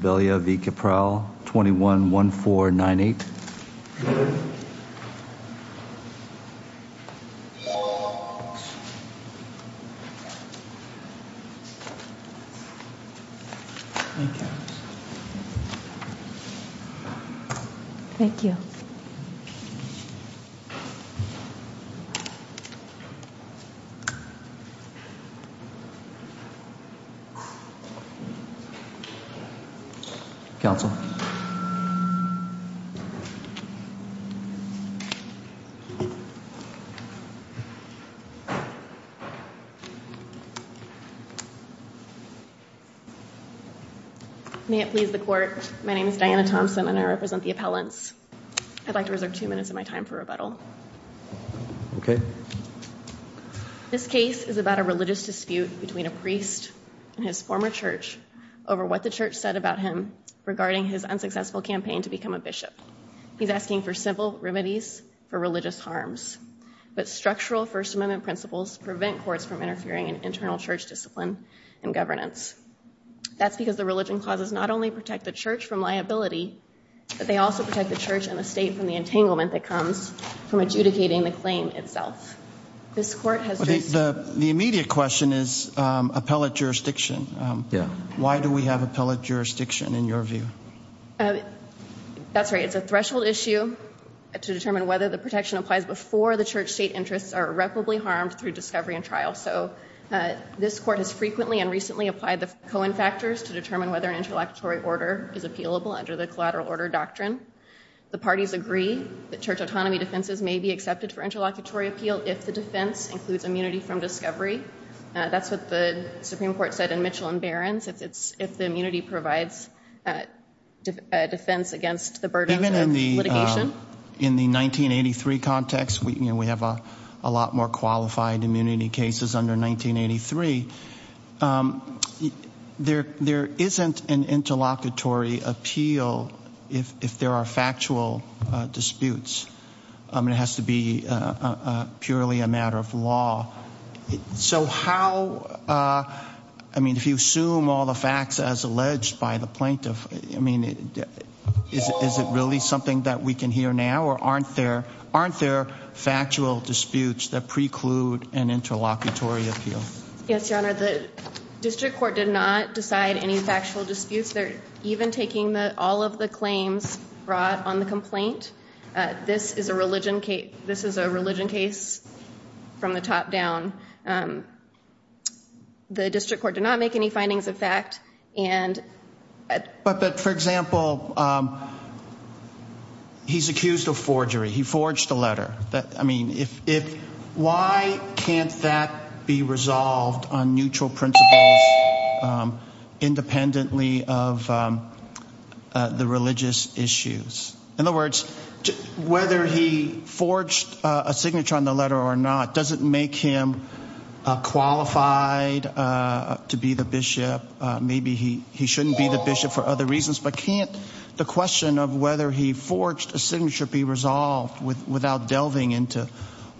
21-1498 Thank you. Thank you. May it please the court. My name is Diana Thompson and I represent the appellants. I'd like to reserve two minutes of my time for rebuttal. Okay. This case is about a religious dispute between a priest and his former church over what the church said about him regarding his unsuccessful campaign to become a bishop. He's asking for simple remedies for religious harms, but structural first amendment principles prevent courts from interfering in internal church discipline and governance. That's because the religion clauses not only protect the church and the state from the entanglement that comes from adjudicating the claim itself. This court has- The immediate question is appellate jurisdiction. Why do we have appellate jurisdiction in your view? That's right. It's a threshold issue to determine whether the protection applies before the church state interests are irreparably harmed through discovery and trial. So this court has frequently and recently applied the Cohen factors to determine whether an interlocutory order is The parties agree that church autonomy defenses may be accepted for interlocutory appeal if the defense includes immunity from discovery. That's what the Supreme Court said in Mitchell and Barron's. If it's, if the immunity provides a defense against the burden of litigation. In the 1983 context, we, you know, we have a lot more qualified immunity cases under 1983. There, there isn't an interlocutory appeal if, if there are factual disputes, I mean, it has to be a purely a matter of law. So how, I mean, if you assume all the facts as alleged by the plaintiff, I mean, is it really something that we can hear now or aren't there, aren't there factual disputes that preclude an interlocutory appeal? Yes. Your honor, the district court did not decide any factual disputes. They're even taking the, all of the claims brought on the complaint. This is a religion case. This is a religion case from the top down. Um, the district court did not make any findings of fact. And, but, but for example, um, he's accused of forgery. He forged a letter that, I mean, if, if, why can't that be resolved on neutral principles, um, independently of, um, uh, the religious issues. In other words, whether he forged a signature on the letter or not, does it make him, uh, qualified, uh, to be the bishop? Uh, maybe he, he shouldn't be the bishop for other reasons, but can't the question of whether he forged a signature be resolved with, without delving into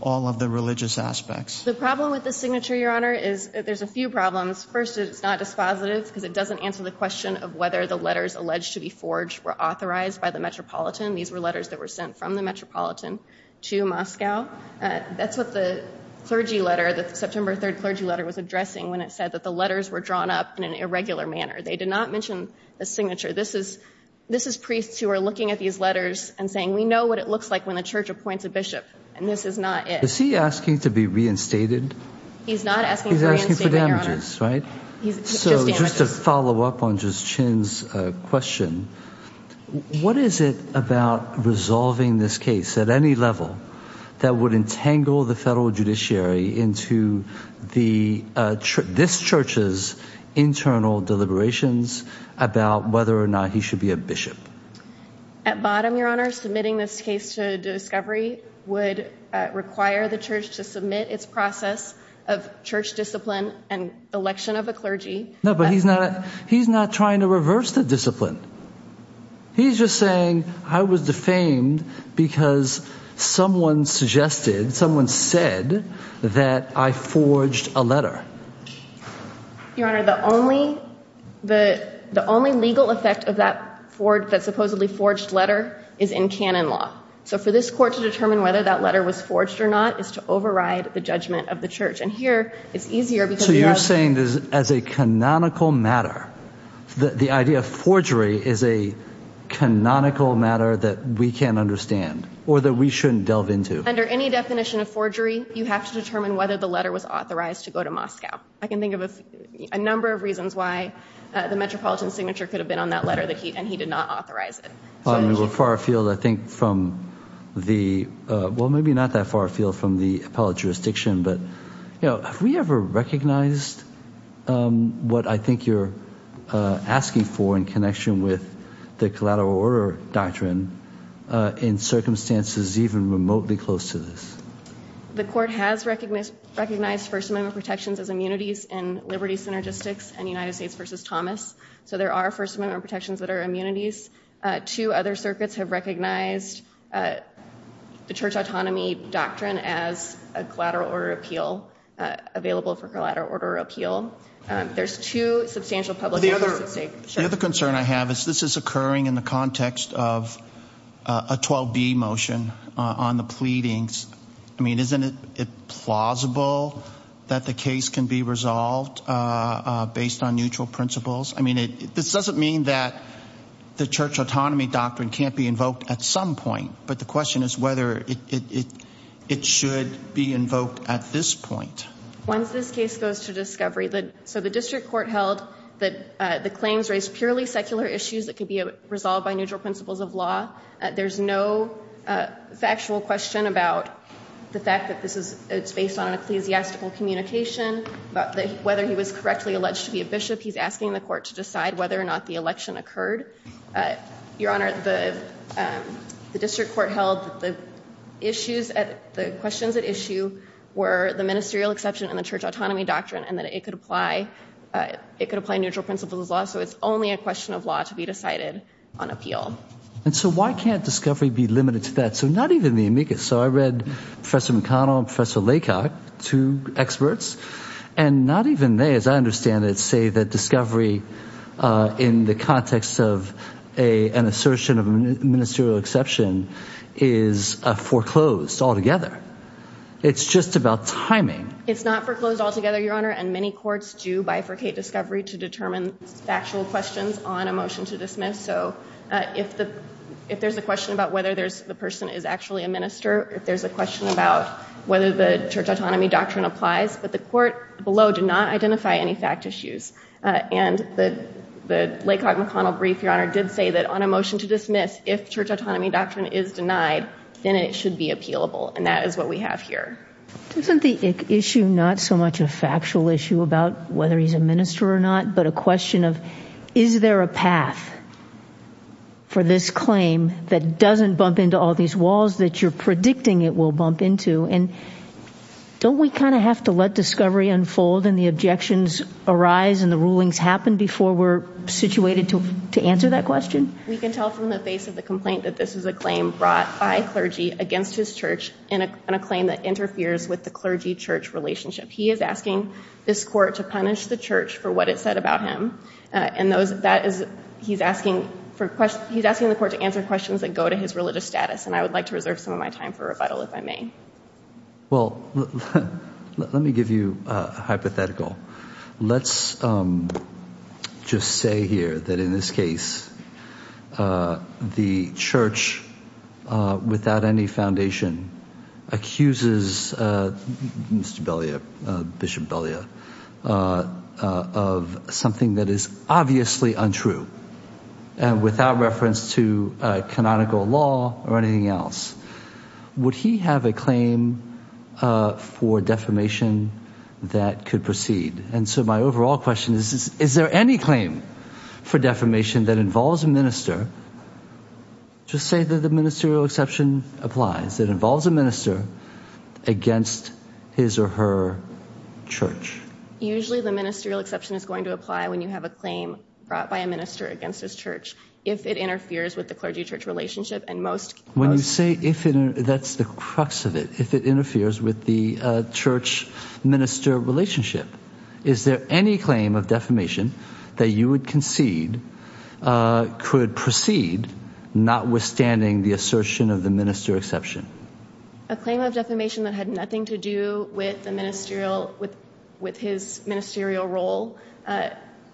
all of the religious aspects. The problem with the signature, your honor, is there's a few problems. First, it's not dispositive because it doesn't answer the question of whether the letters alleged to be forged were authorized by the Metropolitan. These were letters that were sent from the Metropolitan to Moscow. Uh, that's what the clergy letter, the September 3rd clergy letter was addressing when it said that the letters were drawn up in an irregular manner. They did not mention the signature. This is, this is priests who are looking at these letters and saying, we know what it looks like when the church appoints a bishop, and this is not it. Is he asking to be reinstated? He's not asking for damages, right? So just to follow up on just Chin's question, what is it about resolving this case at any level that would entangle the federal judiciary into the, uh, this church's internal deliberations about whether or not he should be a bishop? At bottom, your honor, submitting this case to discovery would require the church to submit its process of church discipline and election of a clergy. No, but he's not, he's not trying to reverse the discipline. He's just saying I was defamed because someone suggested, someone said that I forged a letter. Your honor, the only, the, the only legal effect of that Ford that supposedly forged letter is in Canon law. So for this court to determine whether that letter was forged or not is to override the judgment of the church. And here it's easier because you're saying this as a canonical matter, that the idea of forgery is a canonical matter that we can understand or that we shouldn't delve into. Under any definition of forgery, you have to determine whether the letter was authorized to go to Moscow. I can think of a number of reasons why the metropolitan signature could have been on that letter that he, and he did not authorize it. We're far afield, I think from the, well, maybe not that far afield from the appellate jurisdiction, but you know, have we ever recognized, um, what I think you're, uh, asking for in connection with the collateral order doctrine, uh, in circumstances, even remotely close to this. The court has recognized, recognized first amendment protections as immunities and liberty synergistics and United States versus Thomas. So there are first amendment protections that are immunities, uh, two other circuits have recognized, uh, the church autonomy doctrine as a collateral order appeal, uh, available for collateral order appeal. Um, there's two substantial public. The other concern I have is this is occurring in the context of a 12 B motion on the pleadings. I mean, isn't it plausible that the case can be resolved, uh, based on neutral principles? I mean, it, this doesn't mean that the church autonomy doctrine can't be invoked at some point, but the question is whether it, it, it, it should be invoked at this point. Once this case goes to discovery that, so the district court held that, uh, the claims raised purely secular issues that could be resolved by neutral principles of law. Uh, there's no, uh, factual question about the fact that this is, it's based on an ecclesiastical communication, but whether he was correctly alleged to be a Bishop, he's asking the court to decide whether or not the election occurred, uh, your honor, the, um, the district court held that the issues at the questions at issue were the ministerial exception and the church autonomy doctrine, and that it could apply, uh, it could apply neutral principles of law. So it's only a question of law to be decided on appeal. And so why can't discovery be limited to that? So not even the amicus. So I read professor McConnell, professor Laycock, two experts, and not even they, as I understand it, say that discovery, uh, in the context of a, an assertion of ministerial exception is a foreclosed altogether. It's just about timing. It's not foreclosed altogether, your honor. And many courts do bifurcate discovery to determine factual questions on a motion to dismiss. So, uh, if the, if there's a question about whether there's the person is actually a minister, if there's a question about whether the church autonomy doctrine applies, but the court below did not identify any fact issues. Uh, and the, the Laycock McConnell brief, your honor, did say that on a motion to dismiss, if church autonomy doctrine is denied, then it should be appealable. And that is what we have here. Isn't the issue not so much a factual issue about whether he's a minister or not, but a question of, is there a path for this claim that doesn't bump into all these walls that you're predicting it will bump into? And don't we kind of have to let discovery unfold and the objections arise and the rulings happen before we're situated to, to answer that question? We can tell from the base of the complaint that this is a claim brought by clergy against his church in a, in a claim that interferes with the clergy church relationship. He is asking this court to punish the church for what it said about him. Uh, and those, that is, he's asking for questions, he's asking the court to answer questions that go to his religious status. And I would like to reserve some of my time for rebuttal if I may. Well, let me give you a hypothetical. Let's just say here that in this case, uh, the church, uh, without any foundation accuses, uh, Mr. Belia, uh, Bishop Belia, uh, uh, of something that is obviously untrue and without reference to a canonical law or anything else. Would he have a claim, uh, for defamation that could proceed? And so my overall question is, is there any claim for defamation that involves a minister, just say that the ministerial exception applies, that involves a minister against his or her church? Usually the ministerial exception is going to apply when you have a claim brought by a minister against his church, if it interferes with the clergy church relationship. When you say if that's the crux of it, if it interferes with the, uh, church minister relationship, is there any claim of defamation that you would concede, uh, could proceed notwithstanding the assertion of the minister exception? A claim of defamation that had nothing to do with the ministerial, with, with his ministerial role. Uh,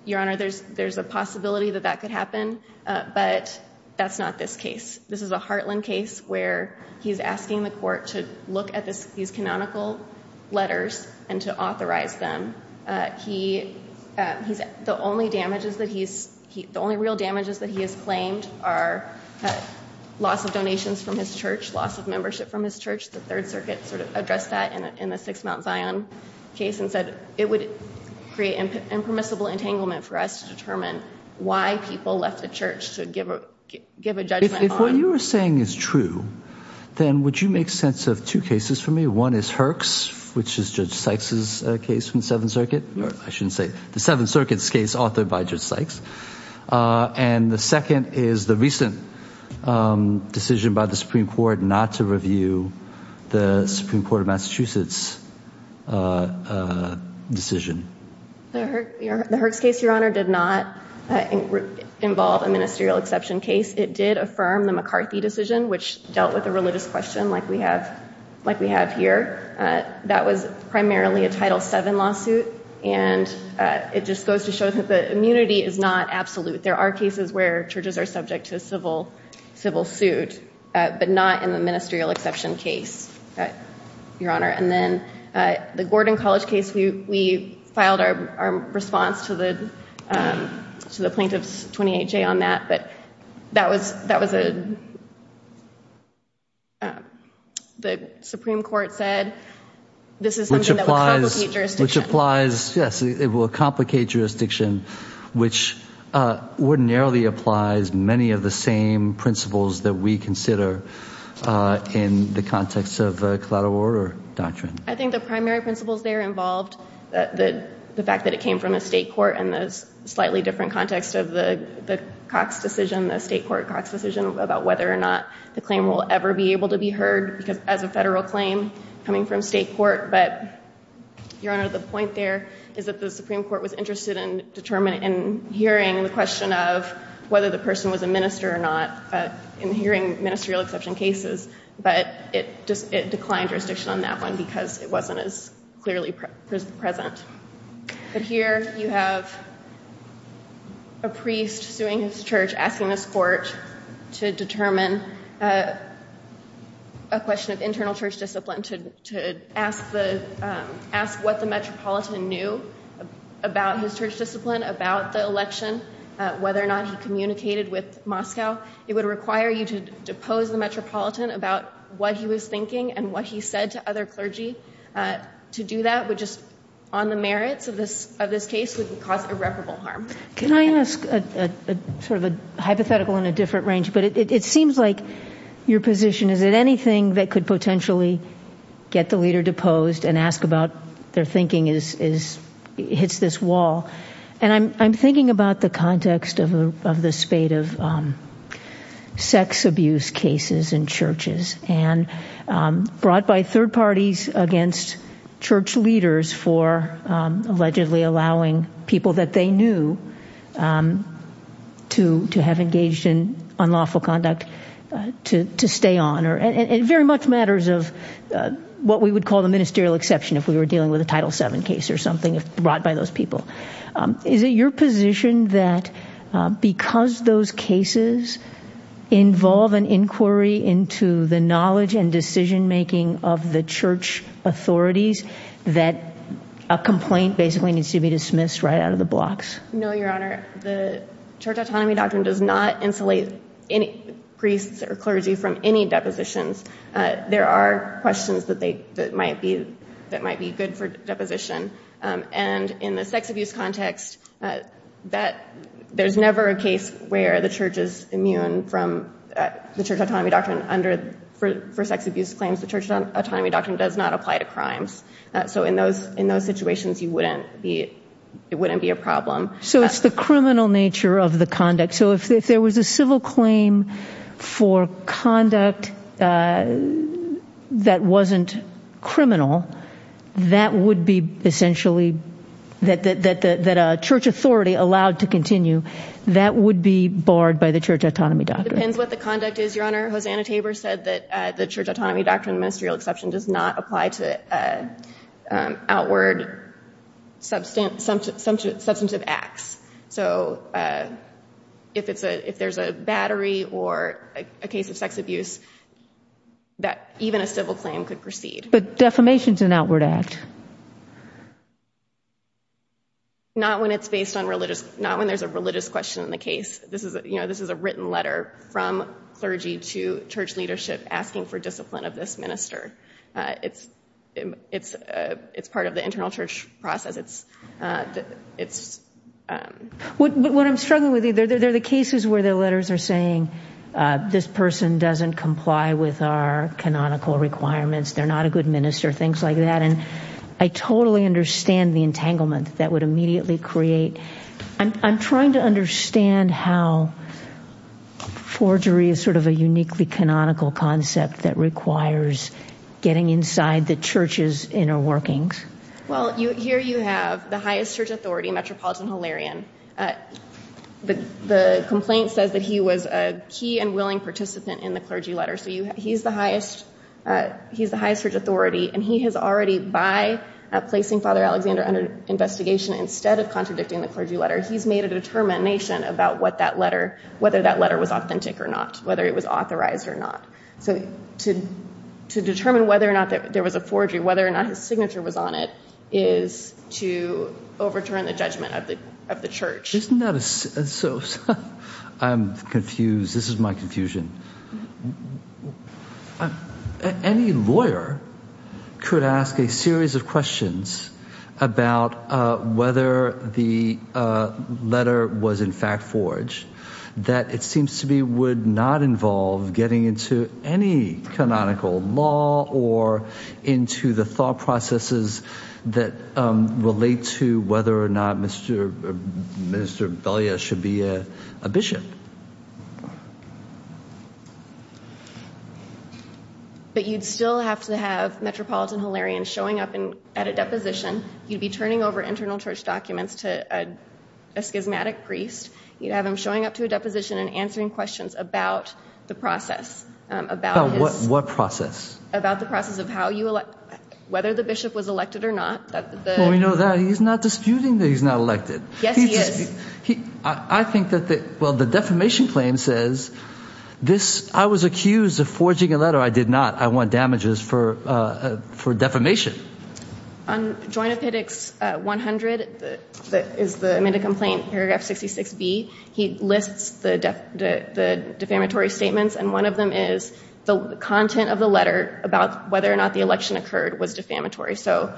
your honor, there's, there's a possibility that that could happen, uh, but that's not this case. This is a Hartland case where he's asking the court to look at this, these canonical letters and to authorize them. Uh, he, uh, he's the only damages that he's, he, the only real damages that he has claimed are loss of donations from his church, loss of membership from his church. The third circuit sort of addressed that in the sixth Mount Zion case and said it would create impermissible entanglement for us to determine why people left the church to give a, give a judgment. If what you were saying is true, then would you make sense of two cases for me? One is Herx, which is judge Sykes's case from the seventh circuit. I shouldn't say the seventh circuits case authored by judge Sykes. Uh, and the second is the recent, um, decision by the Supreme court not to review the Supreme court of Massachusetts, uh, uh, decision. The Herx case, your honor, did not involve a ministerial exception case. It did affirm the McCarthy decision, which dealt with the religious question. Like we have, like we have here, uh, that was primarily a title seven lawsuit. And, uh, it just goes to show that the immunity is not absolute. There are cases where churches are subject to a civil, civil suit, uh, but not in the ministerial exception case, uh, your honor. And then, uh, the Gordon college case, we, we filed our response to the, um, to the plaintiff's 28 J on that, but that was, that was, uh, uh, the Supreme court said, this is something that would complicate jurisdiction, which, uh, ordinarily applies many of the same principles that we consider, uh, in the context of a collateral order doctrine. I think the primary principles there involved, uh, the, the fact that it came from a state court and those slightly different context of the Cox decision, the state court Cox decision about whether or not the claim will ever be able to be heard because as a federal claim coming from state court, but your honor, the point there is that the Supreme court was interested in determining and hearing the question of whether the person was a minister or not, uh, in hearing ministerial exception cases. But it just, it declined jurisdiction on that one because it wasn't as clearly present. But here you have a priest suing his church, asking this court to determine, uh, a question of internal church discipline to, to ask the, um, ask what the metropolitan knew about his church discipline, about the election, uh, whether or not he communicated with Moscow, it would require you to depose the metropolitan about what he was thinking and what he said to other clergy, uh, to do that would just on the merits of this, of this case would cause irreparable harm. Can I ask a sort of a hypothetical in a different range, but it seems like your position is that anything that could potentially get the leader deposed and ask about their thinking is, is hits this wall. And I'm, I'm thinking about the context of the, of the spate of, um, sex abuse cases in churches and, um, brought by third parties against church leaders for, um, allegedly allowing people that they knew, um, to, to have engaged in unlawful conduct, uh, to, to stay on or, and, and very much matters of, uh, what we would call the ministerial exception if we were dealing with a title seven case or something brought by those people, um, is it your position that, uh, because those cases involve an inquiry into the knowledge and decision-making of the church authorities that a complaint basically needs to be dismissed right out of the blocks? No, Your Honor, the church autonomy doctrine does not insulate any priests or clergy from any depositions. Uh, there are questions that they, that might be, that might be good for deposition. Um, and in the sex abuse context, uh, that there's never a case where the church is immune from, uh, the sex abuse claims, the church autonomy doctrine does not apply to crimes. Uh, so in those, in those situations, you wouldn't be, it wouldn't be a problem. So it's the criminal nature of the conduct. So if there was a civil claim for conduct, uh, that wasn't criminal, that would be essentially that, that, that, that, that a church authority allowed to continue, that would be barred by the church autonomy doctrine. It depends what the conduct is, Your Honor. Hosanna Tabor said that, uh, the church autonomy doctrine, the ministerial exception does not apply to, uh, um, outward substantive acts. So, uh, if it's a, if there's a battery or a case of sex abuse, that even a civil claim could proceed. But defamation's an outward act. Not when it's based on religious, not when there's a religious question in the case. This is, you know, this is a written letter from clergy to church leadership asking for discipline of this minister. Uh, it's, it's, uh, it's part of the internal church process. It's, uh, it's, um. What, what I'm struggling with either, they're the cases where the letters are saying, uh, this person doesn't comply with our canonical requirements. They're not a good minister, things like that. And I totally understand the entanglement that would immediately create, I'm, I'm trying to understand how forgery is sort of a uniquely canonical concept that requires getting inside the church's inner workings. Well, you, here you have the highest church authority, Metropolitan Hilarion. Uh, the, the complaint says that he was a key and willing participant in the clergy letter. So you, he's the highest, uh, he's the highest church authority, and he has already, by placing Father Alexander under investigation, instead of contradicting the clergy letter, he's made a determination about what that letter, whether that letter was authentic or not, whether it was authorized or not. So to, to determine whether or not there was a forgery, whether or not his signature was on it, is to overturn the judgment of the, of the church. Isn't that a, so, so I'm confused. This is my confusion. Any lawyer could ask a series of questions about, uh, whether the, uh, letter was in fact forged, that it seems to me would not involve getting into any canonical law or into the thought processes that, um, relate to whether or not Mr. Uh, Mr. Velia should be a, a bishop. But you'd still have to have Metropolitan Hilarion showing up in, at a deposition. You'd be turning over internal church documents to a, a schismatic priest. You'd have him showing up to a deposition and answering questions about the process, um, about his... About what, what process? About the process of how you elect, whether the bishop was elected or not, that the... Well, we know that. He's not disputing that he's not elected. Yes, he is. He, I think that the, well, the defamation claim says, this, I was accused of forging a letter. I did not. I want damages for, uh, uh, for defamation. On Joint Appendix, uh, 100, the, that is the amended complaint, paragraph 66B. He lists the def, the, the defamatory statements. And one of them is the content of the letter about whether or not the election occurred was defamatory. So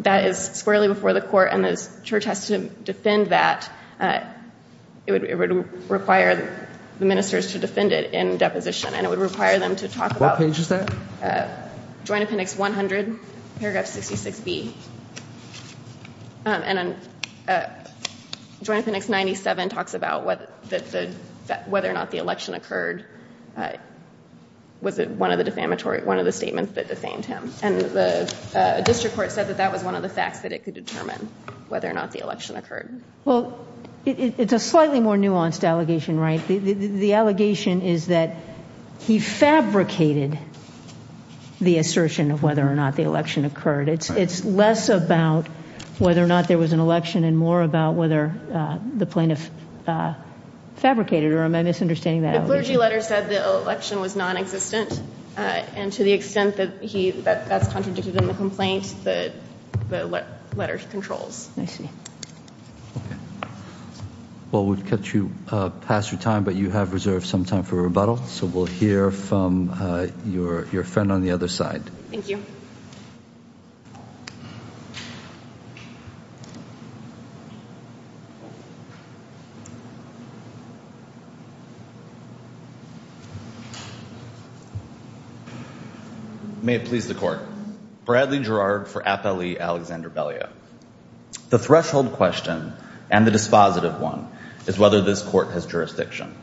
that is squarely before the court. And this church has to defend that, uh, it would, it would require the ministers to defend it in deposition and it would require them to talk about... What page is that? Uh, Joint Appendix 100, paragraph 66B. Um, and then, uh, Joint Appendix 97 talks about what the, the, whether or not the election occurred. Uh, was it one of the defamatory, one of the statements that defamed him? And the, uh, district court said that that was one of the facts that it could determine whether or not the election occurred. Well, it's a slightly more nuanced allegation, right? The, the, the allegation is that he fabricated the assertion of whether or not the election occurred. It's, it's less about whether or not there was an election and more about whether, uh, the plaintiff, uh, fabricated, or am I misunderstanding that? The clergy letter said the election was non-existent. Uh, and to the extent that he, that that's contradicted in the complaint, the, the letter controls. I see. Okay. Well, we've kept you, uh, past your time, but you have reserved some time for rebuttal. So we'll hear from, uh, your, your friend on the other side. Thank you. May it please the court. Bradley Gerard for Appellee Alexander Belia. The threshold question and the dispositive one is whether this court has jurisdiction.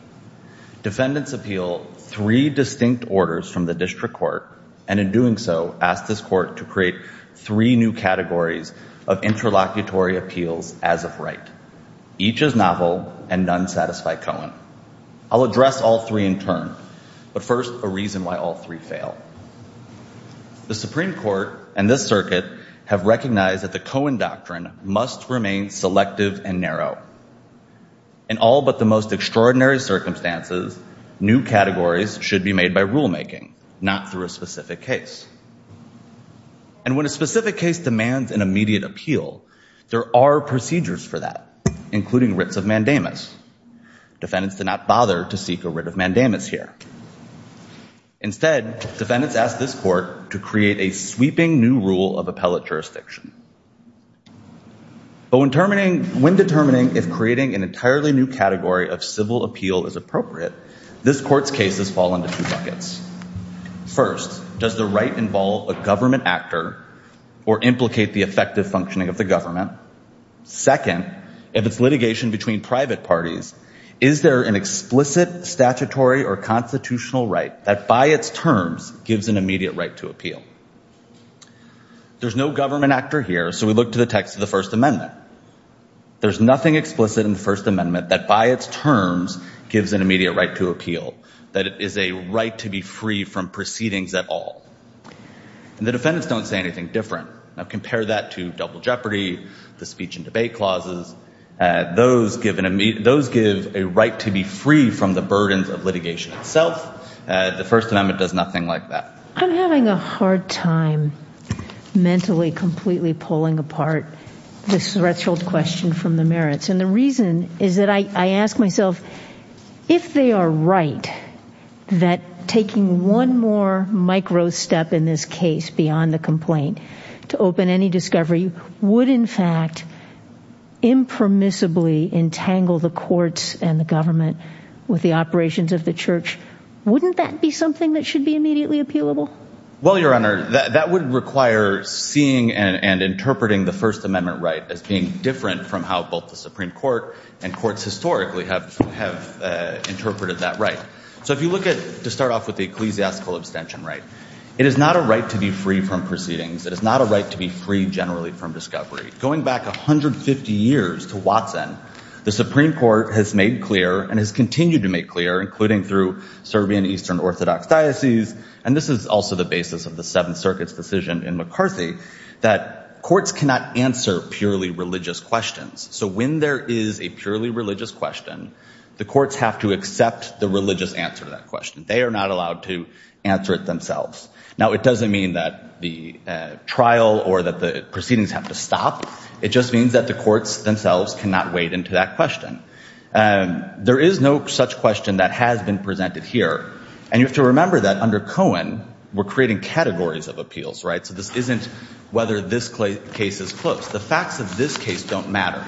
Defendants appeal three distinct orders from the district court. And in doing so, ask this court to create three new categories of interlocutory appeals as of right. Each is novel and none satisfy Cohen. I'll address all three in turn, but first a reason why all three fail. The Supreme court and this circuit have recognized that the Cohen doctrine must remain selective and narrow. And all, but the most extraordinary circumstances, new categories should be made by rulemaking, not through a specific case. And when a specific case demands an immediate appeal, there are procedures for that, including writs of mandamus. Defendants did not bother to seek a writ of mandamus here. Instead, defendants asked this court to create a sweeping new rule of appellate jurisdiction. But when determining, when determining, if creating an entirely new category of civil appeal is appropriate, this court's cases fall into two buckets. First, does the right involve a government actor or implicate the effective functioning of the government? Second, if it's litigation between private parties, is there an explicit statutory or constitutional right that by its terms gives an immediate right to appeal? There's no government actor here. So we look to the text of the first amendment. There's nothing explicit in the first amendment that by its terms gives an immediate right to appeal, that it is a right to be free from proceedings at all. And the defendants don't say anything different. Now compare that to double jeopardy, the speech and debate clauses, those give an immediate, those give a right to be free from the burdens of litigation itself. Uh, the first amendment does nothing like that. I'm having a hard time mentally completely pulling apart the threshold question from the merits. And the reason is that I, I ask myself if they are right, that taking one more micro step in this case beyond the complaint to open any discovery would in fact impermissibly entangle the courts and the government with the operations of the church. Wouldn't that be something that should be immediately appealable? Well, Your Honor, that would require seeing and interpreting the first amendment right as being different from how both the Supreme court and courts historically have, have interpreted that right. So if you look at, to start off with the ecclesiastical abstention right, it is not a right to be free from proceedings. It is not a right to be free generally from discovery. Going back 150 years to Watson, the Supreme court has made clear and has continued to make clear, including through Serbian Eastern Orthodox diocese. And this is also the basis of the seventh circuit's decision in McCarthy, that courts cannot answer purely religious questions. So when there is a purely religious question, the courts have to accept the religious answer to that question. They are not allowed to answer it themselves. Now it doesn't mean that the trial or that the proceedings have to stop. It just means that the courts themselves cannot wade into that question. There is no such question that has been presented here. And you have to remember that under Cohen, we're creating categories of appeals, right? So this isn't whether this case is close. The facts of this case don't matter.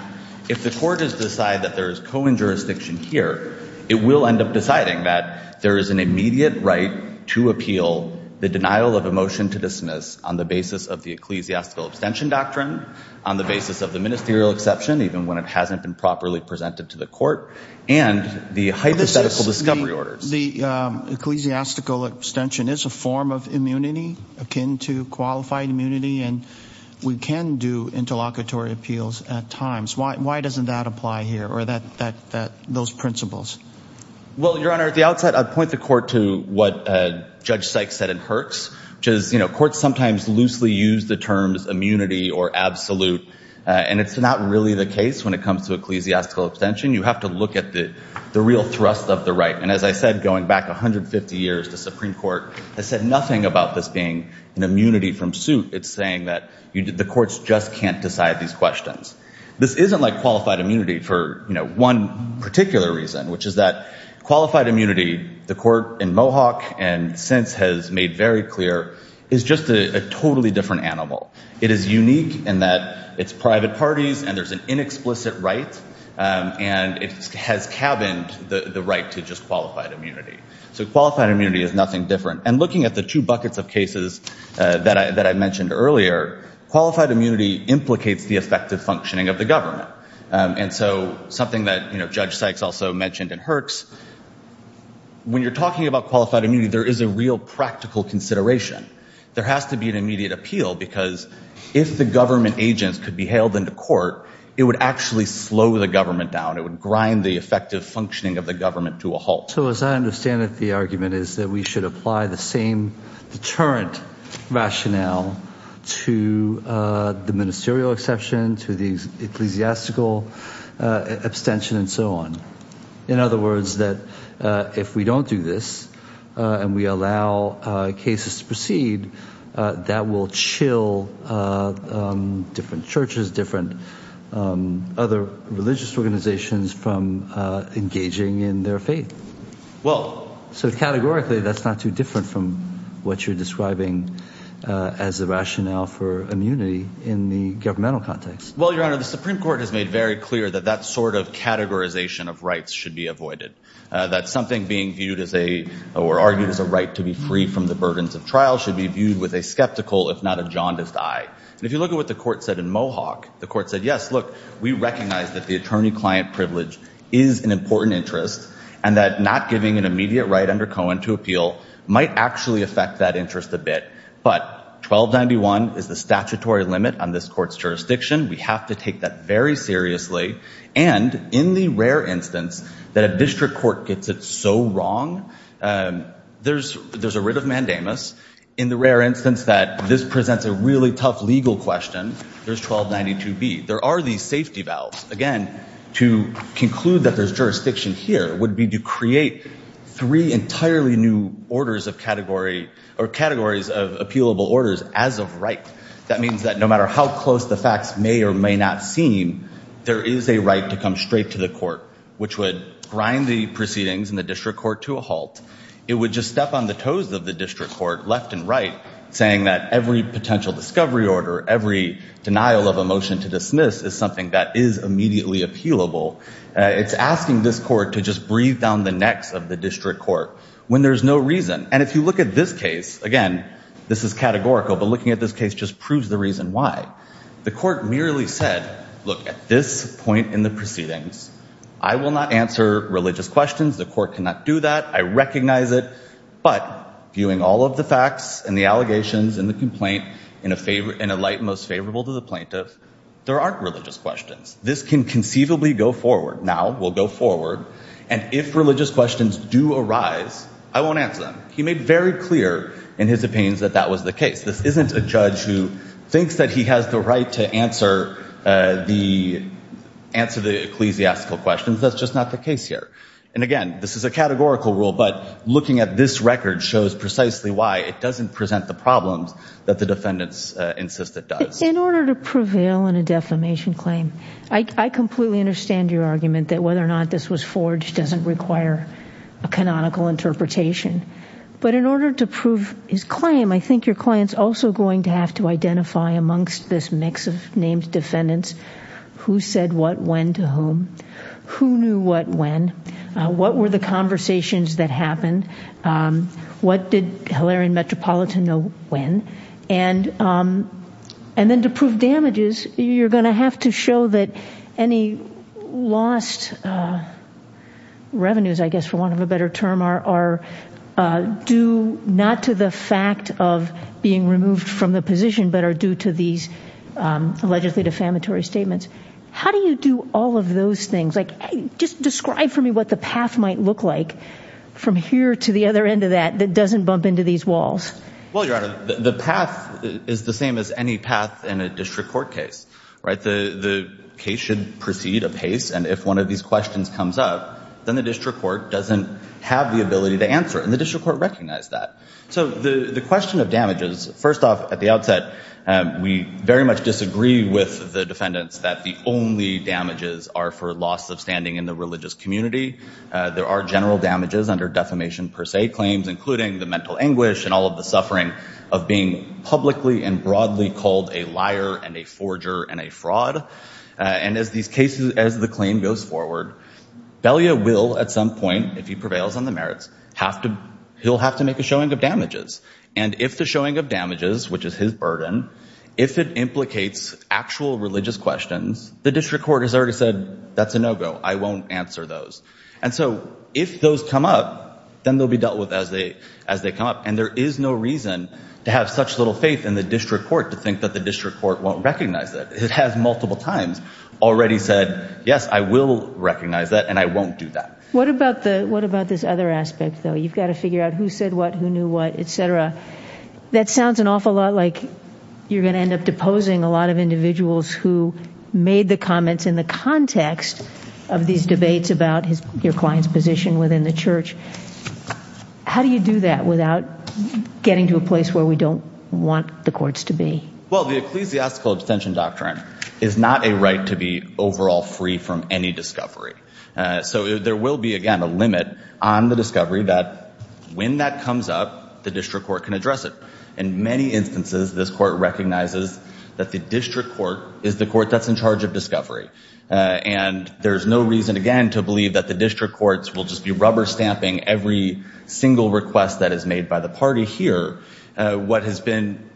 If the court has decided that there is Cohen jurisdiction here, it will end up deciding that there is an immediate right to appeal the denial of a motion to dismiss on the basis of the ecclesiastical abstention doctrine, on the basis of the ministerial exception, even when it hasn't been properly presented to the court and the hypothetical discovery orders. The ecclesiastical abstention is a form of immunity akin to qualified immunity. And we can do interlocutory appeals at times. Why doesn't that apply here or that those principles? Well, Your Honor, at the outset, I'd point the court to what Judge Sykes said in Herx, which is, you know, courts sometimes loosely use the terms immunity or absolute, and it's not really the case when it comes to ecclesiastical abstention. You have to look at the real thrust of the right. And as I said, going back 150 years to Supreme Court, I said nothing about this being an immunity from suit. It's saying that the courts just can't decide these questions. This isn't like qualified immunity for one particular reason, which is that qualified immunity, the court in Mohawk and since has made very clear, is just a totally different animal. It is unique in that it's private parties and there's an inexplicit right, and it has cabined the right to just qualified immunity. So qualified immunity is nothing different. And looking at the two buckets of cases that I mentioned earlier, qualified immunity implicates the effective functioning of the government. And so something that, you know, Judge Sykes also mentioned in Herx, when you're talking about qualified immunity, there is a real practical consideration. There has to be an immediate appeal because if the government agents could be hailed into court, it would actually slow the government down. It would grind the effective functioning of the government to a halt. So as I understand it, the argument is that we should apply the same deterrent rationale to the ministerial exception, to the ecclesiastical abstention and so on. In other words, that if we don't do this and we allow cases to proceed, that will chill different churches, different other religious organizations from engaging in their faith. Well, so categorically, that's not too different from what you're describing as the rationale for immunity in the governmental context. Well, Your Honor, the Supreme Court has made very clear that that sort of categorization of rights should be avoided. That's something being viewed as a or argued as a right to be free from the burdens of trial should be viewed with a skeptical, if not a jaundiced eye. And if you look at what the court said in Mohawk, the court said, yes, look, we recognize that the attorney client privilege is an important interest and that not giving an immediate right under Cohen to appeal might actually affect that interest a bit. But 1291 is the statutory limit on this court's jurisdiction. We have to take that very seriously. And in the rare instance that a district court gets it so wrong, there's a writ of mandamus. In the rare instance that this presents a really tough legal question, there's 1292B. There are these safety valves. Again, to conclude that there's jurisdiction here would be to create three entirely new orders of category or categories of appealable orders as of right. That means that no matter how close the facts may or may not seem, there is a right to come straight to the court, which would grind the proceedings in the district court to a halt. It would just step on the toes of the district court left and right, saying that every potential discovery order, every denial of a motion to dismiss is something that is immediately appealable. It's asking this court to just breathe down the necks of the district court when there's no reason. And if you look at this case, again, this is categorical, but looking at this case just proves the reason why. The court merely said, look, at this point in the proceedings, I will not answer religious questions. The court cannot do that. I recognize it. But viewing all of the facts and the allegations and the complaint in a light most favorable to the plaintiff, there aren't religious questions. This can conceivably go forward. Now we'll go forward. And if religious questions do arise, I won't answer them. He made very clear in his opinions that that was the case. This isn't a judge who thinks that he has the right to answer the answer, the ecclesiastical questions. That's just not the case here. And again, this is a categorical rule, but looking at this record shows precisely why it doesn't present the problems that the defendants insist it does. In order to prevail in a defamation claim, I completely understand your argument that whether or not this was forged doesn't require a canonical interpretation, but in order to prove his claim, I think your client's also going to have to identify amongst this mix of named defendants who said what, when, to whom, who knew what, when, what were the conversations that happened, what did Hilarion Metropolitan know when, and then to prove damages, you're going to have to show that any lost revenues, I guess for want of a better term, are due not to the fact of being removed from the position, but are due to these allegedly defamatory statements. How do you do all of those things? Like, just describe for me what the path might look like from here to the other end of that, that doesn't bump into these walls. Well, Your Honor, the path is the same as any path in a district court case, right? The case should proceed apace. And if one of these questions comes up, then the district court doesn't have the ability to answer it. And the district court recognized that. So the question of damages, first off at the outset, we very much disagree with the defendants that the only damages are for loss of standing in the religious community. There are general damages under defamation per se claims, including the mental anguish and all of the suffering of being publicly and broadly called a liar and a forger and a fraud. And as these cases, as the claim goes forward, Belia will, at some point, if he prevails on the merits, have to, he'll have to make a showing of damages. And if the showing of damages, which is his burden, if it implicates actual religious questions, the district court has already said, that's a no-go. I won't answer those. And so if those come up, then they'll be dealt with as they, as they come up. And there is no reason to have such little faith in the district court to think that the district court won't recognize that it has multiple times already said, yes, I will recognize that. And I won't do that. What about the, what about this other aspect though? You've got to figure out who said what, who knew what, et cetera. That sounds an awful lot like you're going to end up deposing a lot of individuals who made the comments in the context of these debates about his, your client's position within the church. How do you do that without getting to a place where we don't want the courts to be? Well, the ecclesiastical abstention doctrine is not a right to be overall free from any discovery. So there will be, again, a limit on the discovery that when that comes up, the district court can address it. In many instances, this court recognizes that the district court is the court that's in charge of discovery. Uh, and there's no reason again, to believe that the district courts will just be rubber stamping every single request that is made by the party here. Uh, what has been,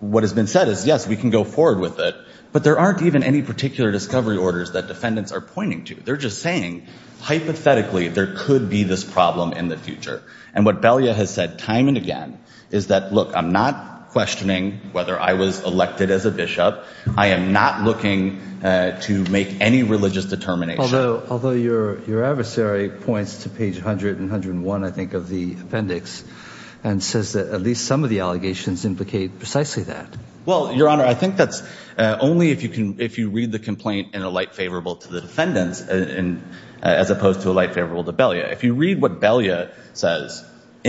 what has been said is yes, we can go forward with it, but there aren't even any particular discovery orders that defendants are pointing to. They're just saying, hypothetically, there could be this problem in the future. And what Belia has said time and again, is that, look, I'm not questioning whether I was elected as a Bishop. I am not looking to make any religious determination. Although, although your, your adversary points to page a hundred and a hundred and one, I think of the appendix and says that at least some of the allegations implicate precisely that. Well, your honor, I think that's only if you can, if you read the complaint in a light favorable to the defendants and as opposed to a light favorable to Belia, if you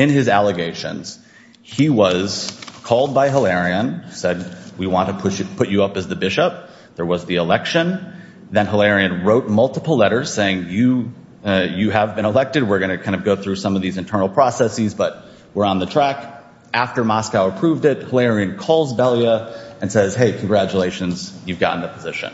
In his allegations, he was called by Hilarion, said, we want to push it, put you up as the Bishop. There was the election. Then Hilarion wrote multiple letters saying, you, uh, you have been elected. We're going to kind of go through some of these internal processes, but we're on the track. After Moscow approved it, Hilarion calls Belia and says, Hey, congratulations, you've gotten a position.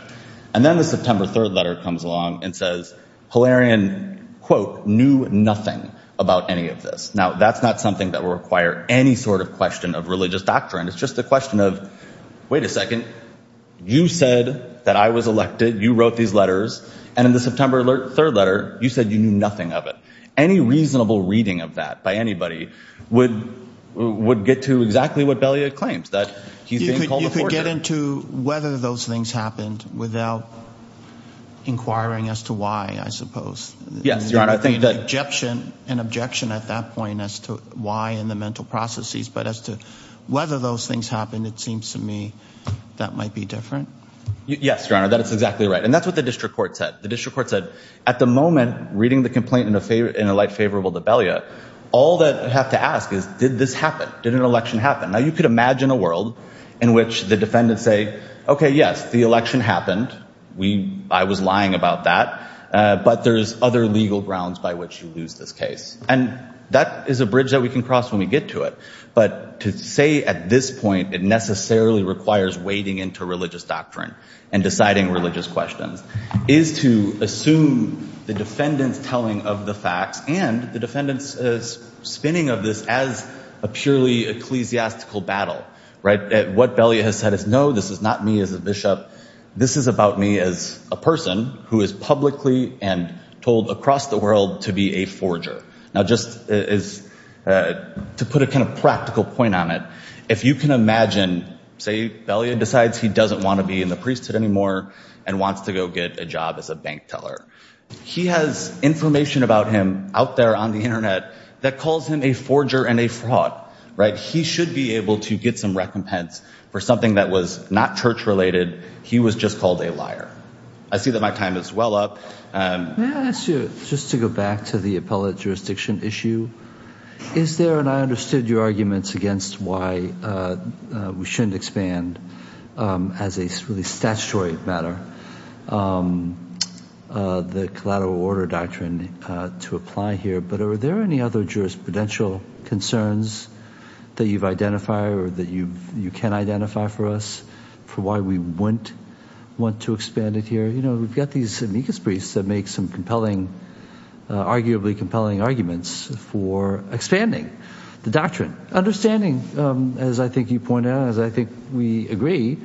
And then the September 3rd letter comes along and says Hilarion quote, knew nothing about any of this. Now that's not something that will require any sort of question of religious doctrine. It's just the question of, wait a second, you said that I was elected. You wrote these letters and in the September 3rd letter, you said you knew nothing of it. Any reasonable reading of that by anybody would, would get to exactly what Belia claims that he's being called. You could get into whether those things happened without inquiring as to why, I suppose. Yes, Your Honor. I think that. An objection at that point as to why in the mental processes, but as to whether those things happened, it seems to me that might be different. Yes, Your Honor. That is exactly right. And that's what the district court said. The district court said at the moment, reading the complaint in a light favorable to Belia, all that I have to ask is, did this happen? Did an election happen? Now you could imagine a world in which the defendants say, okay, yes, the election happened. We, I was lying about that. But there's other legal grounds by which you lose this case. And that is a bridge that we can cross when we get to it. But to say at this point, it necessarily requires wading into religious doctrine and deciding religious questions is to assume the defendant's telling of the facts and the defendant's spinning of this as a purely ecclesiastical battle. Right. What Belia has said is, no, this is not me as a bishop. This is about me as a person who is publicly and told across the world to be a forger. Now, just to put a kind of practical point on it, if you can imagine, say Belia decides he doesn't want to be in the priesthood anymore and wants to go get a job as a bank teller. He has information about him out there on the internet that calls him a forger and a fraud, right? He should be able to get some recompense for something that was not church related. He was just called a liar. I see that my time is well up. Um, just to go back to the appellate jurisdiction issue is there, and I understood your arguments against why, uh, uh, we shouldn't expand, um, as a really statutory matter, um, uh, the collateral order doctrine, uh, to apply here, but are there any other jurisprudential concerns that you've identified or that you've, you can identify for us for why we wouldn't want to expand it here? You know, we've got these amicus priests that make some compelling, uh, arguably compelling arguments for expanding the doctrine understanding. Um, as I think you pointed out, as I think we agree,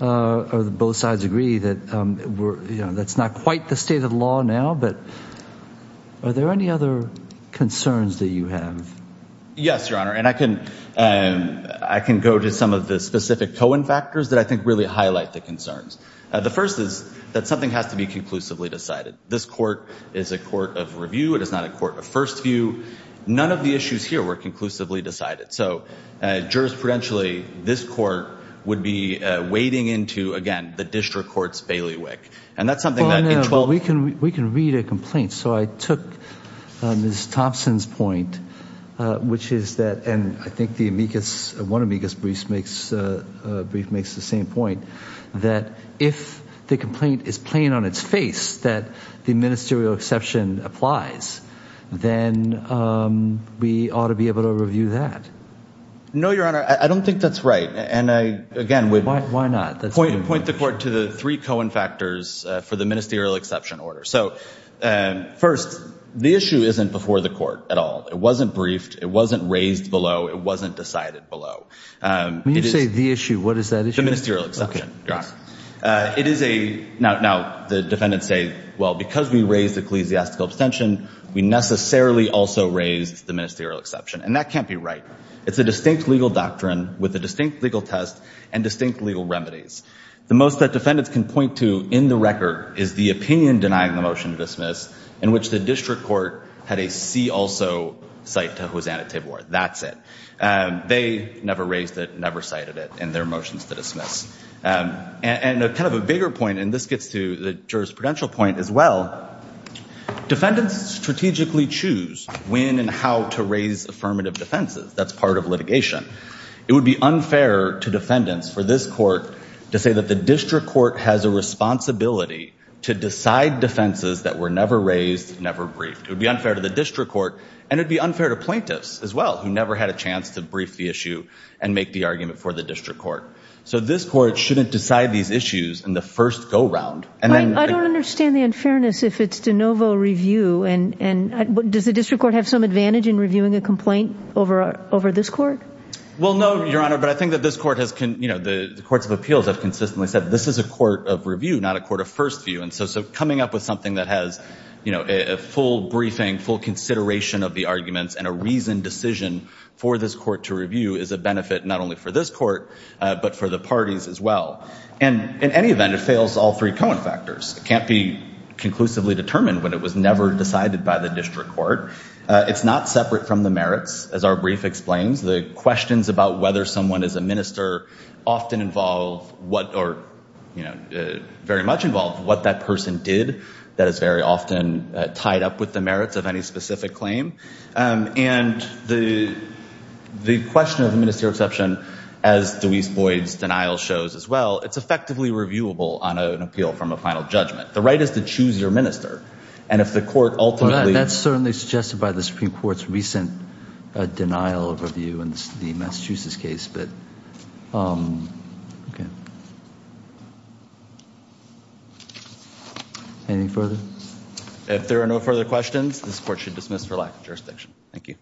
uh, or the both sides agree that, um, we're, you know, that's not quite the state of the law now, but are there any other concerns that you have? Yes, Your Honor. And I can, um, I can go to some of the specific Cohen factors that I think really highlight the concerns. Uh, the first is that something has to be conclusively decided. This court is a court of review. It is not a court of first view. None of the issues here were conclusively decided. So, uh, jurisprudentially this court would be, uh, wading into again, the district court's bailiwick. And that's something that we can, we can read a complaint. So I took, uh, Ms. Thompson's point, uh, which is that, and I think the amicus, one amicus briefs makes, uh, uh, brief makes the same point that if the complaint is plain on its face, that the ministerial exception applies, then, um, we ought to be able to review that. No, Your Honor. I don't think that's right. And I, again, why not point the court to the three Cohen factors for the ministerial exception order. So, uh, first the issue isn't before the court at all. It wasn't briefed. It wasn't raised below. It wasn't decided below. Um, when you say the issue, what is that? It's a ministerial exception. Uh, it is a, now, now the defendants say, well, because we raised ecclesiastical abstention, we necessarily also raised the ministerial exception. And that can't be right. It's a distinct legal doctrine with a distinct legal test and distinct legal remedies. The most that defendants can point to in the record is the opinion denying the motion to dismiss in which the district court had a see also cite to Hosanna Tidworth. That's it. Um, they never raised it, never cited it in their motions to dismiss. Um, and a kind of a bigger point, and this gets to the jurisprudential point as well, defendants strategically choose when and how to raise affirmative defenses. That's part of litigation. It would be unfair to defendants for this court to say that the district court has a responsibility to decide defenses that were never raised, never briefed, it would be unfair to the district court and it'd be unfair to plaintiffs as well, who never had a chance to brief the issue and make the argument for the district court. So this court shouldn't decide these issues in the first go round. And then I don't understand the unfairness if it's de novo review. And, and does the district court have some advantage in reviewing a complaint over, uh, over this court? Well, no, your honor. But I think that this court has, you know, the courts of appeals have a court of review, not a court of first view. And so, so coming up with something that has, you know, a full briefing, full consideration of the arguments and a reasoned decision for this court to review is a benefit not only for this court, uh, but for the parties as well. And in any event, it fails all three Cohen factors. It can't be conclusively determined when it was never decided by the district court. Uh, it's not separate from the merits. As our brief explains the questions about whether someone is a minister often involve what, or, you know, uh, very much involved what that person did. That is very often tied up with the merits of any specific claim. Um, and the, the question of the ministerial exception as Deweese Boyd's denial shows as well, it's effectively reviewable on an appeal from a final judgment. The right is to choose your minister. And if the court ultimately, that's certainly suggested by the Supreme court's recent, uh, denial of review and the Massachusetts case. Um, okay. Any further, if there are no further questions, this court should dismiss for lack of jurisdiction. Thank you.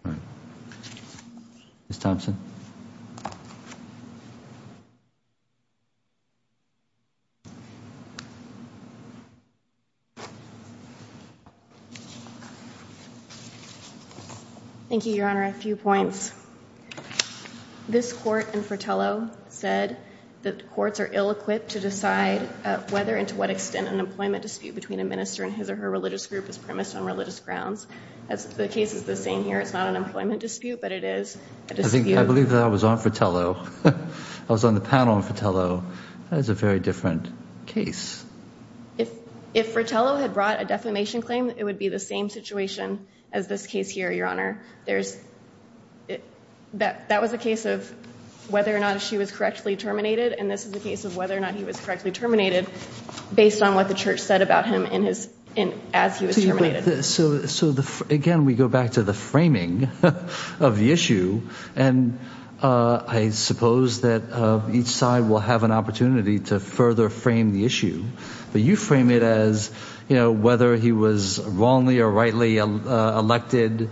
It's Thompson. Thank you, your honor. A few points. This court and Fratello said that courts are ill-equipped to decide whether and to what extent an employment dispute between a minister and his or her religious group is premised on religious grounds as the case is the same here. It's not an employment dispute, but it is a dispute. I believe that I was on Fratello. I was on the panel on Fratello. That is a very different case. If, if Fratello had brought a defamation claim, it would be the same situation as this case here, your honor. There's that, that was a case of whether or not she was correctly terminated. And this is a case of whether or not he was correctly terminated based on what the church said about him in his, in, as he was terminated. So, so the, again, we go back to the framing of the issue. And, uh, I suppose that, uh, each side will have an opportunity to further frame the issue, but you frame it as, you know, whether he was wrongly or rightly elected,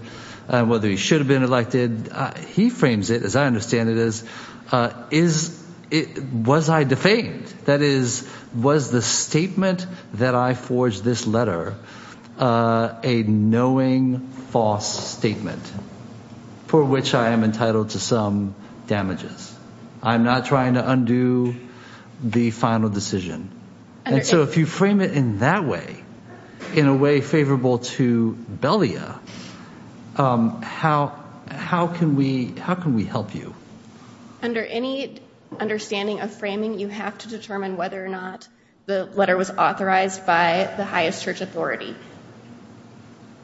whether he should have been elected, he frames it, as I understand it, as, uh, is it, was I defamed that is, was the statement that I forged this letter, uh, a knowing false statement for which I am entitled to some damages. I'm not trying to undo the final decision. And so if you frame it in that way, in a way favorable to Belia, um, how, how can we, how can we help you? Under any understanding of framing, you have to determine whether or not the letter was authorized by the highest church authority,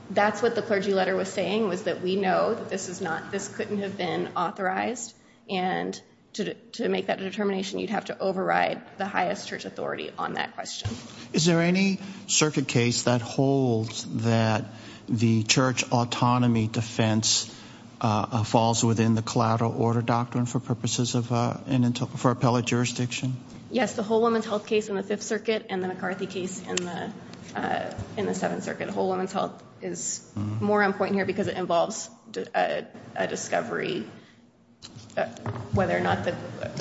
that's what the clergy letter was saying was that we know that this is not, this couldn't have been authorized and to, to make that determination, you'd have to have a church authority on that question. Is there any circuit case that holds that the church autonomy defense, uh, falls within the collateral order doctrine for purposes of, uh, for appellate jurisdiction? Yes. The Whole Woman's Health case in the Fifth Circuit and the McCarthy case in the, uh, in the Seventh Circuit. Whole Woman's Health is more on point here because it involves, uh, a discovery, whether or not the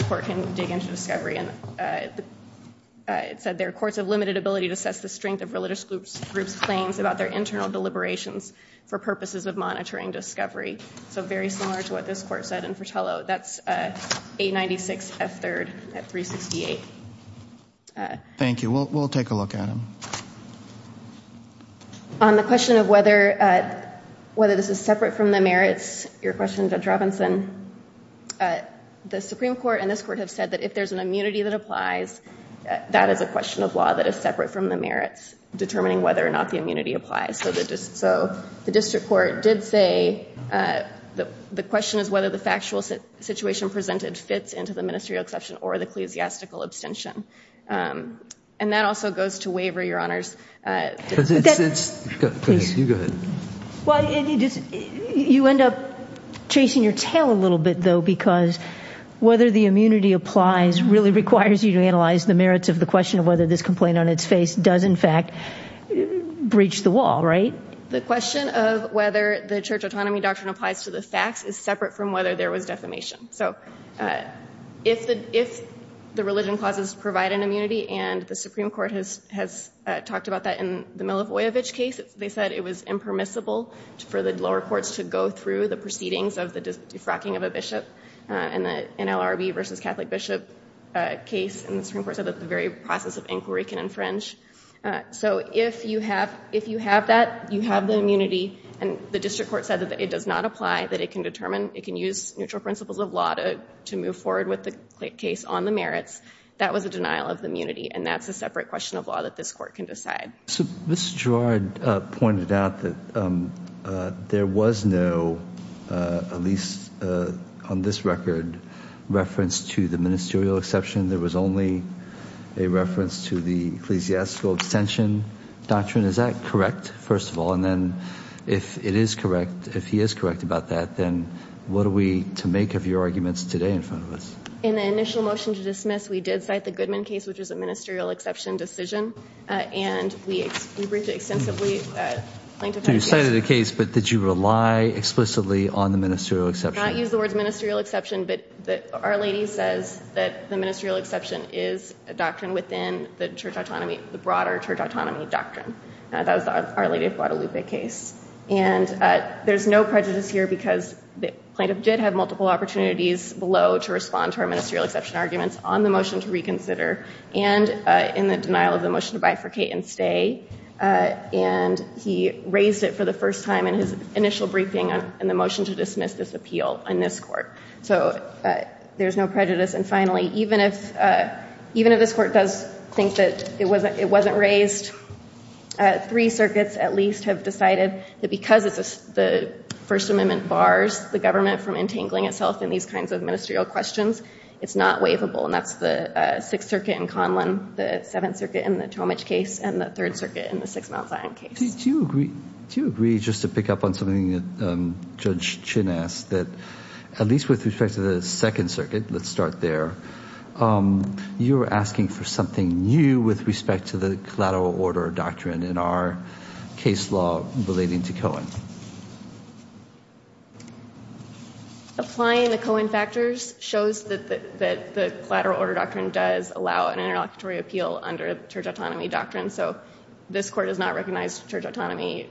court can dig into discovery and, uh, uh, it said there are courts of limited ability to assess the strength of religious groups, groups, claims about their internal deliberations for purposes of monitoring discovery. So very similar to what this court said in Fratello, that's, uh, 896 F3rd at 368. Uh, Thank you. We'll, we'll take a look at them. On the question of whether, uh, whether this is separate from the merits, your question, Judge Robinson, uh, the Supreme Court and this court have said that if there's an immunity that applies, that is a question of law that is separate from the merits, determining whether or not the immunity applies. So the district, so the district court did say, uh, the, the question is whether the factual situation presented fits into the ministerial exception or the ecclesiastical abstention. Um, and that also goes to waiver, Your Honors. Uh, because it's, it's, you go ahead. Well, you just, you end up chasing your tail a little bit though, because whether the immunity applies really requires you to analyze the merits of the question of whether this complaint on its face does in fact breach the wall, right? The question of whether the church autonomy doctrine applies to the facts is separate from whether there was defamation. So, uh, if the, if the religion clauses provide an immunity and the Supreme Court has, has, uh, talked about that in the Milivojevich case, they said it was impermissible for the lower courts to go through the proceedings of the defrocking of a bishop, uh, in the NLRB versus Catholic bishop, uh, case and the Supreme Court said that the very process of inquiry can infringe. Uh, so if you have, if you have that, you have the immunity and the district court said that it does not apply, that it can determine, it can use neutral principles of law to, to move forward with the case on the merits. That was a denial of the immunity. And that's a separate question of law that this court can decide. So Mr. Girard, uh, pointed out that, um, uh, there was no, uh, at least, uh, on this record, reference to the ministerial exception, there was only a reference to the ecclesiastical abstention doctrine. Is that correct? First of all, and then if it is correct, if he is correct about that, then what are we to make of your arguments today in front of us? In the initial motion to dismiss, we did cite the Goodman case, which is a ministerial exception decision. Uh, and we, we bring to extensively, uh, plaintiff had a case. You cited a case, but did you rely explicitly on the ministerial exception? I use the words ministerial exception, but the Our Lady says that the ministerial exception is a doctrine within the church autonomy, the broader church autonomy doctrine. Uh, that was the Our Lady of Guadalupe case. And, uh, there's no prejudice here because the plaintiff did have multiple opportunities below to respond to our ministerial exception arguments on the motion to reconsider and, uh, in the denial of the motion to bifurcate and stay, uh, and he raised it for the first time in his initial briefing on the motion to dismiss this appeal in this court. So, uh, there's no prejudice. And finally, even if, uh, even if this court does think that it wasn't, it wasn't raised, uh, three circuits at least have decided that because it's the First Amendment bars the government from entangling itself in these kinds of ministerial questions, it's not waivable. And that's the, uh, Sixth Circuit in Conlon, the Seventh Circuit in the Tomich case and the Third Circuit in the Six Mount Zion case. Do you agree, do you agree just to pick up on something that, um, Judge Chin asked that at least with respect to the Second Circuit, let's start there. Um, you were asking for something new with respect to the collateral order doctrine in our case law relating to Cohen. Applying the Cohen factors shows that the, that the collateral order doctrine does allow an interlocutory appeal under church autonomy doctrine. So this court does not recognize church autonomy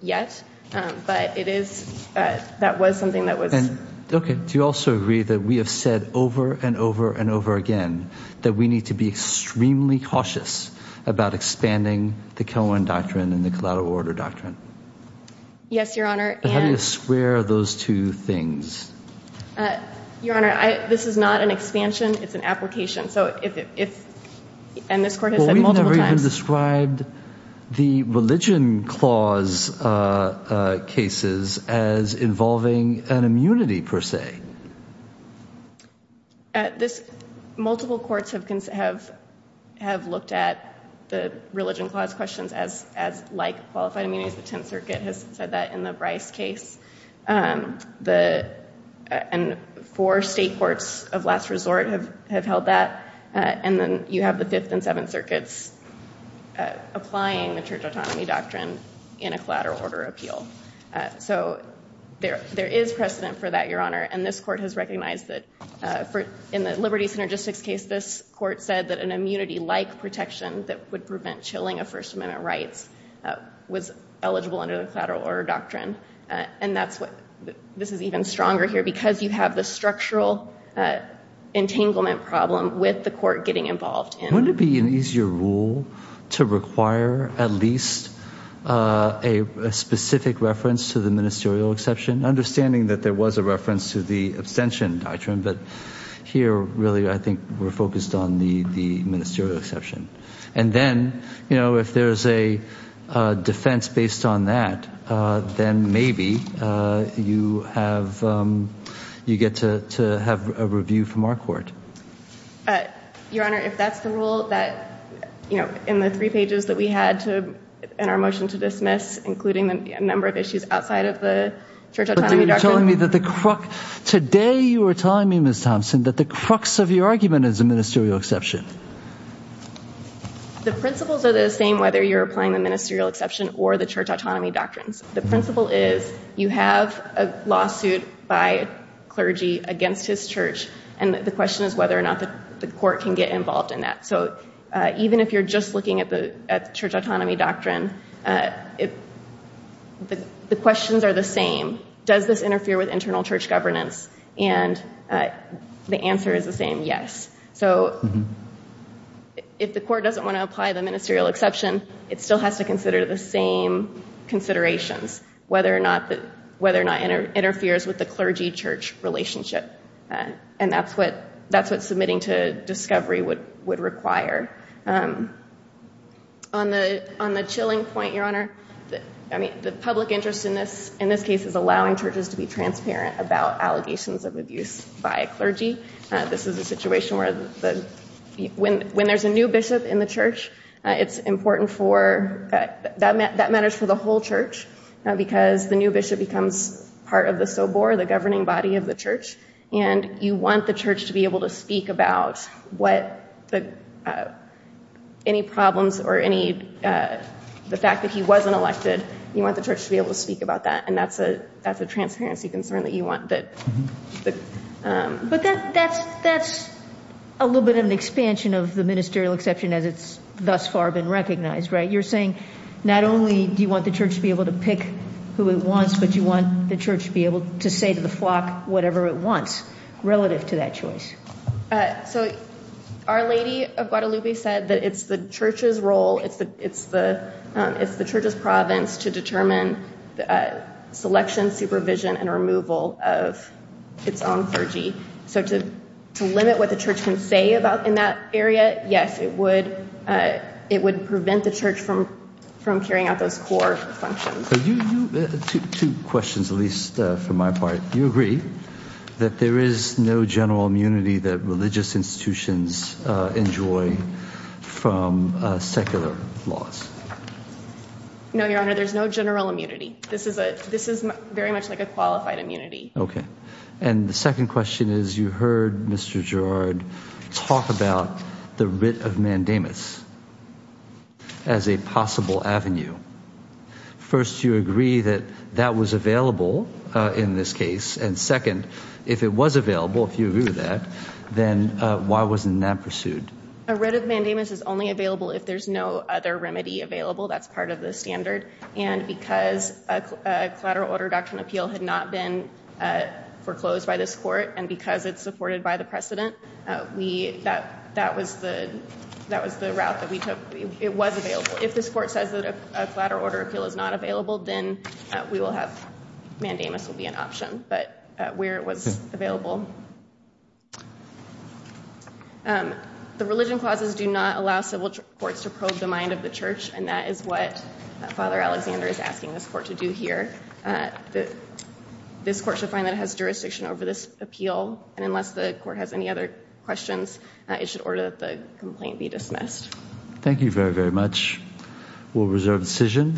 yet. Um, but it is, uh, that was something that was... And, okay, do you also agree that we have said over and over and over again, that we need to be extremely cautious about expanding the Cohen doctrine and the collateral order doctrine? Yes. Yes, Your Honor. And how do you square those two things? Uh, Your Honor, I, this is not an expansion. It's an application. So if, if, if, and this court has said multiple times... Well, we've never even described the religion clause, uh, uh, cases as involving an immunity per se. Uh, this, multiple courts have, have, have looked at the religion clause questions as, as like qualified immunities. The 10th circuit has said that in the Bryce case, um, the, uh, and four state courts of last resort have, have held that, uh, and then you have the 5th and 7th circuits, uh, applying the church autonomy doctrine in a collateral order appeal. Uh, so there, there is precedent for that, Your Honor. And this court has recognized that, uh, for, in the Liberty Synergistics case, this court said that an immunity-like protection that would eligible under the collateral order doctrine. Uh, and that's what, this is even stronger here because you have the structural, uh, entanglement problem with the court getting involved in. Wouldn't it be an easier rule to require at least, uh, a specific reference to the ministerial exception? Understanding that there was a reference to the abstention doctrine, but here really, I think we're focused on the, the ministerial exception and then, you know, uh, defense based on that, uh, then maybe, uh, you have, um, you get to, to have a review from our court. Uh, Your Honor, if that's the rule that, you know, in the three pages that we had to, in our motion to dismiss, including a number of issues outside of the church autonomy doctrine. But you're telling me that the crux, today you were telling me, Ms. Thompson, that the crux of your argument is a ministerial exception. The principles are the same, whether you're applying the ministerial exception or the church autonomy doctrines. The principle is you have a lawsuit by clergy against his church. And the question is whether or not the court can get involved in that. So, uh, even if you're just looking at the, at church autonomy doctrine, uh, if the questions are the same, does this interfere with internal church governance and, uh, the answer is the same, yes. So if the court doesn't want to apply the ministerial exception, it still has to consider the same considerations, whether or not the, whether or not it interferes with the clergy church relationship. Uh, and that's what, that's what submitting to discovery would, would require. Um, on the, on the chilling point, Your Honor, I mean, the public interest in this, in this case is allowing churches to be transparent about allegations of abuse by a clergy. Uh, this is a situation where the, when, when there's a new bishop in the church, uh, it's important for, uh, that meant that matters for the whole church, uh, because the new bishop becomes part of the Sobor, the governing body of the church, and you want the church to be able to speak about what the, uh, any problems or any, uh, the fact that he wasn't elected, you want the church to be able to speak about that. And that's a, that's a transparency concern that you want that. But, um, but that, that's, that's a little bit of an expansion of the ministerial exception as it's thus far been recognized, right? You're saying not only do you want the church to be able to pick who it wants, but you want the church to be able to say to the flock, whatever it wants relative to that choice. Uh, so our lady of Guadalupe said that it's the church's role. It's the, it's the, um, it's the church's province to determine, uh, selection, supervision, and removal of its own clergy. So to, to limit what the church can say about in that area, yes, it would, uh, it would prevent the church from, from carrying out those core functions. So you, you, two questions, at least, uh, from my part. Do you agree that there is no general immunity that religious institutions, uh, enjoy from, uh, secular laws? No, Your Honor, there's no general immunity. This is a, this is very much like a qualified immunity. Okay. And the second question is you heard Mr. Gerard talk about the writ of mandamus as a possible avenue. First, you agree that that was available, uh, in this case. And second, if it was available, if you agree with that, then, uh, why wasn't that pursued? A writ of mandamus is only available if there's no other remedy available. That's part of the standard. And because a collateral order reduction appeal had not been, uh, foreclosed by this court and because it's supported by the precedent, uh, we, that, that was the, that was the route that we took. It was available. If this court says that a collateral order appeal is not available, then, uh, we will have, mandamus will be an option, but, uh, where it was available. Um, the religion clauses do not allow civil courts to probe the mind of the Mr. Alexander is asking this court to do here. Uh, this court should find that it has jurisdiction over this appeal and unless the court has any other questions, uh, it should order that the complaint be dismissed. Thank you very, very much. We'll reserve decision.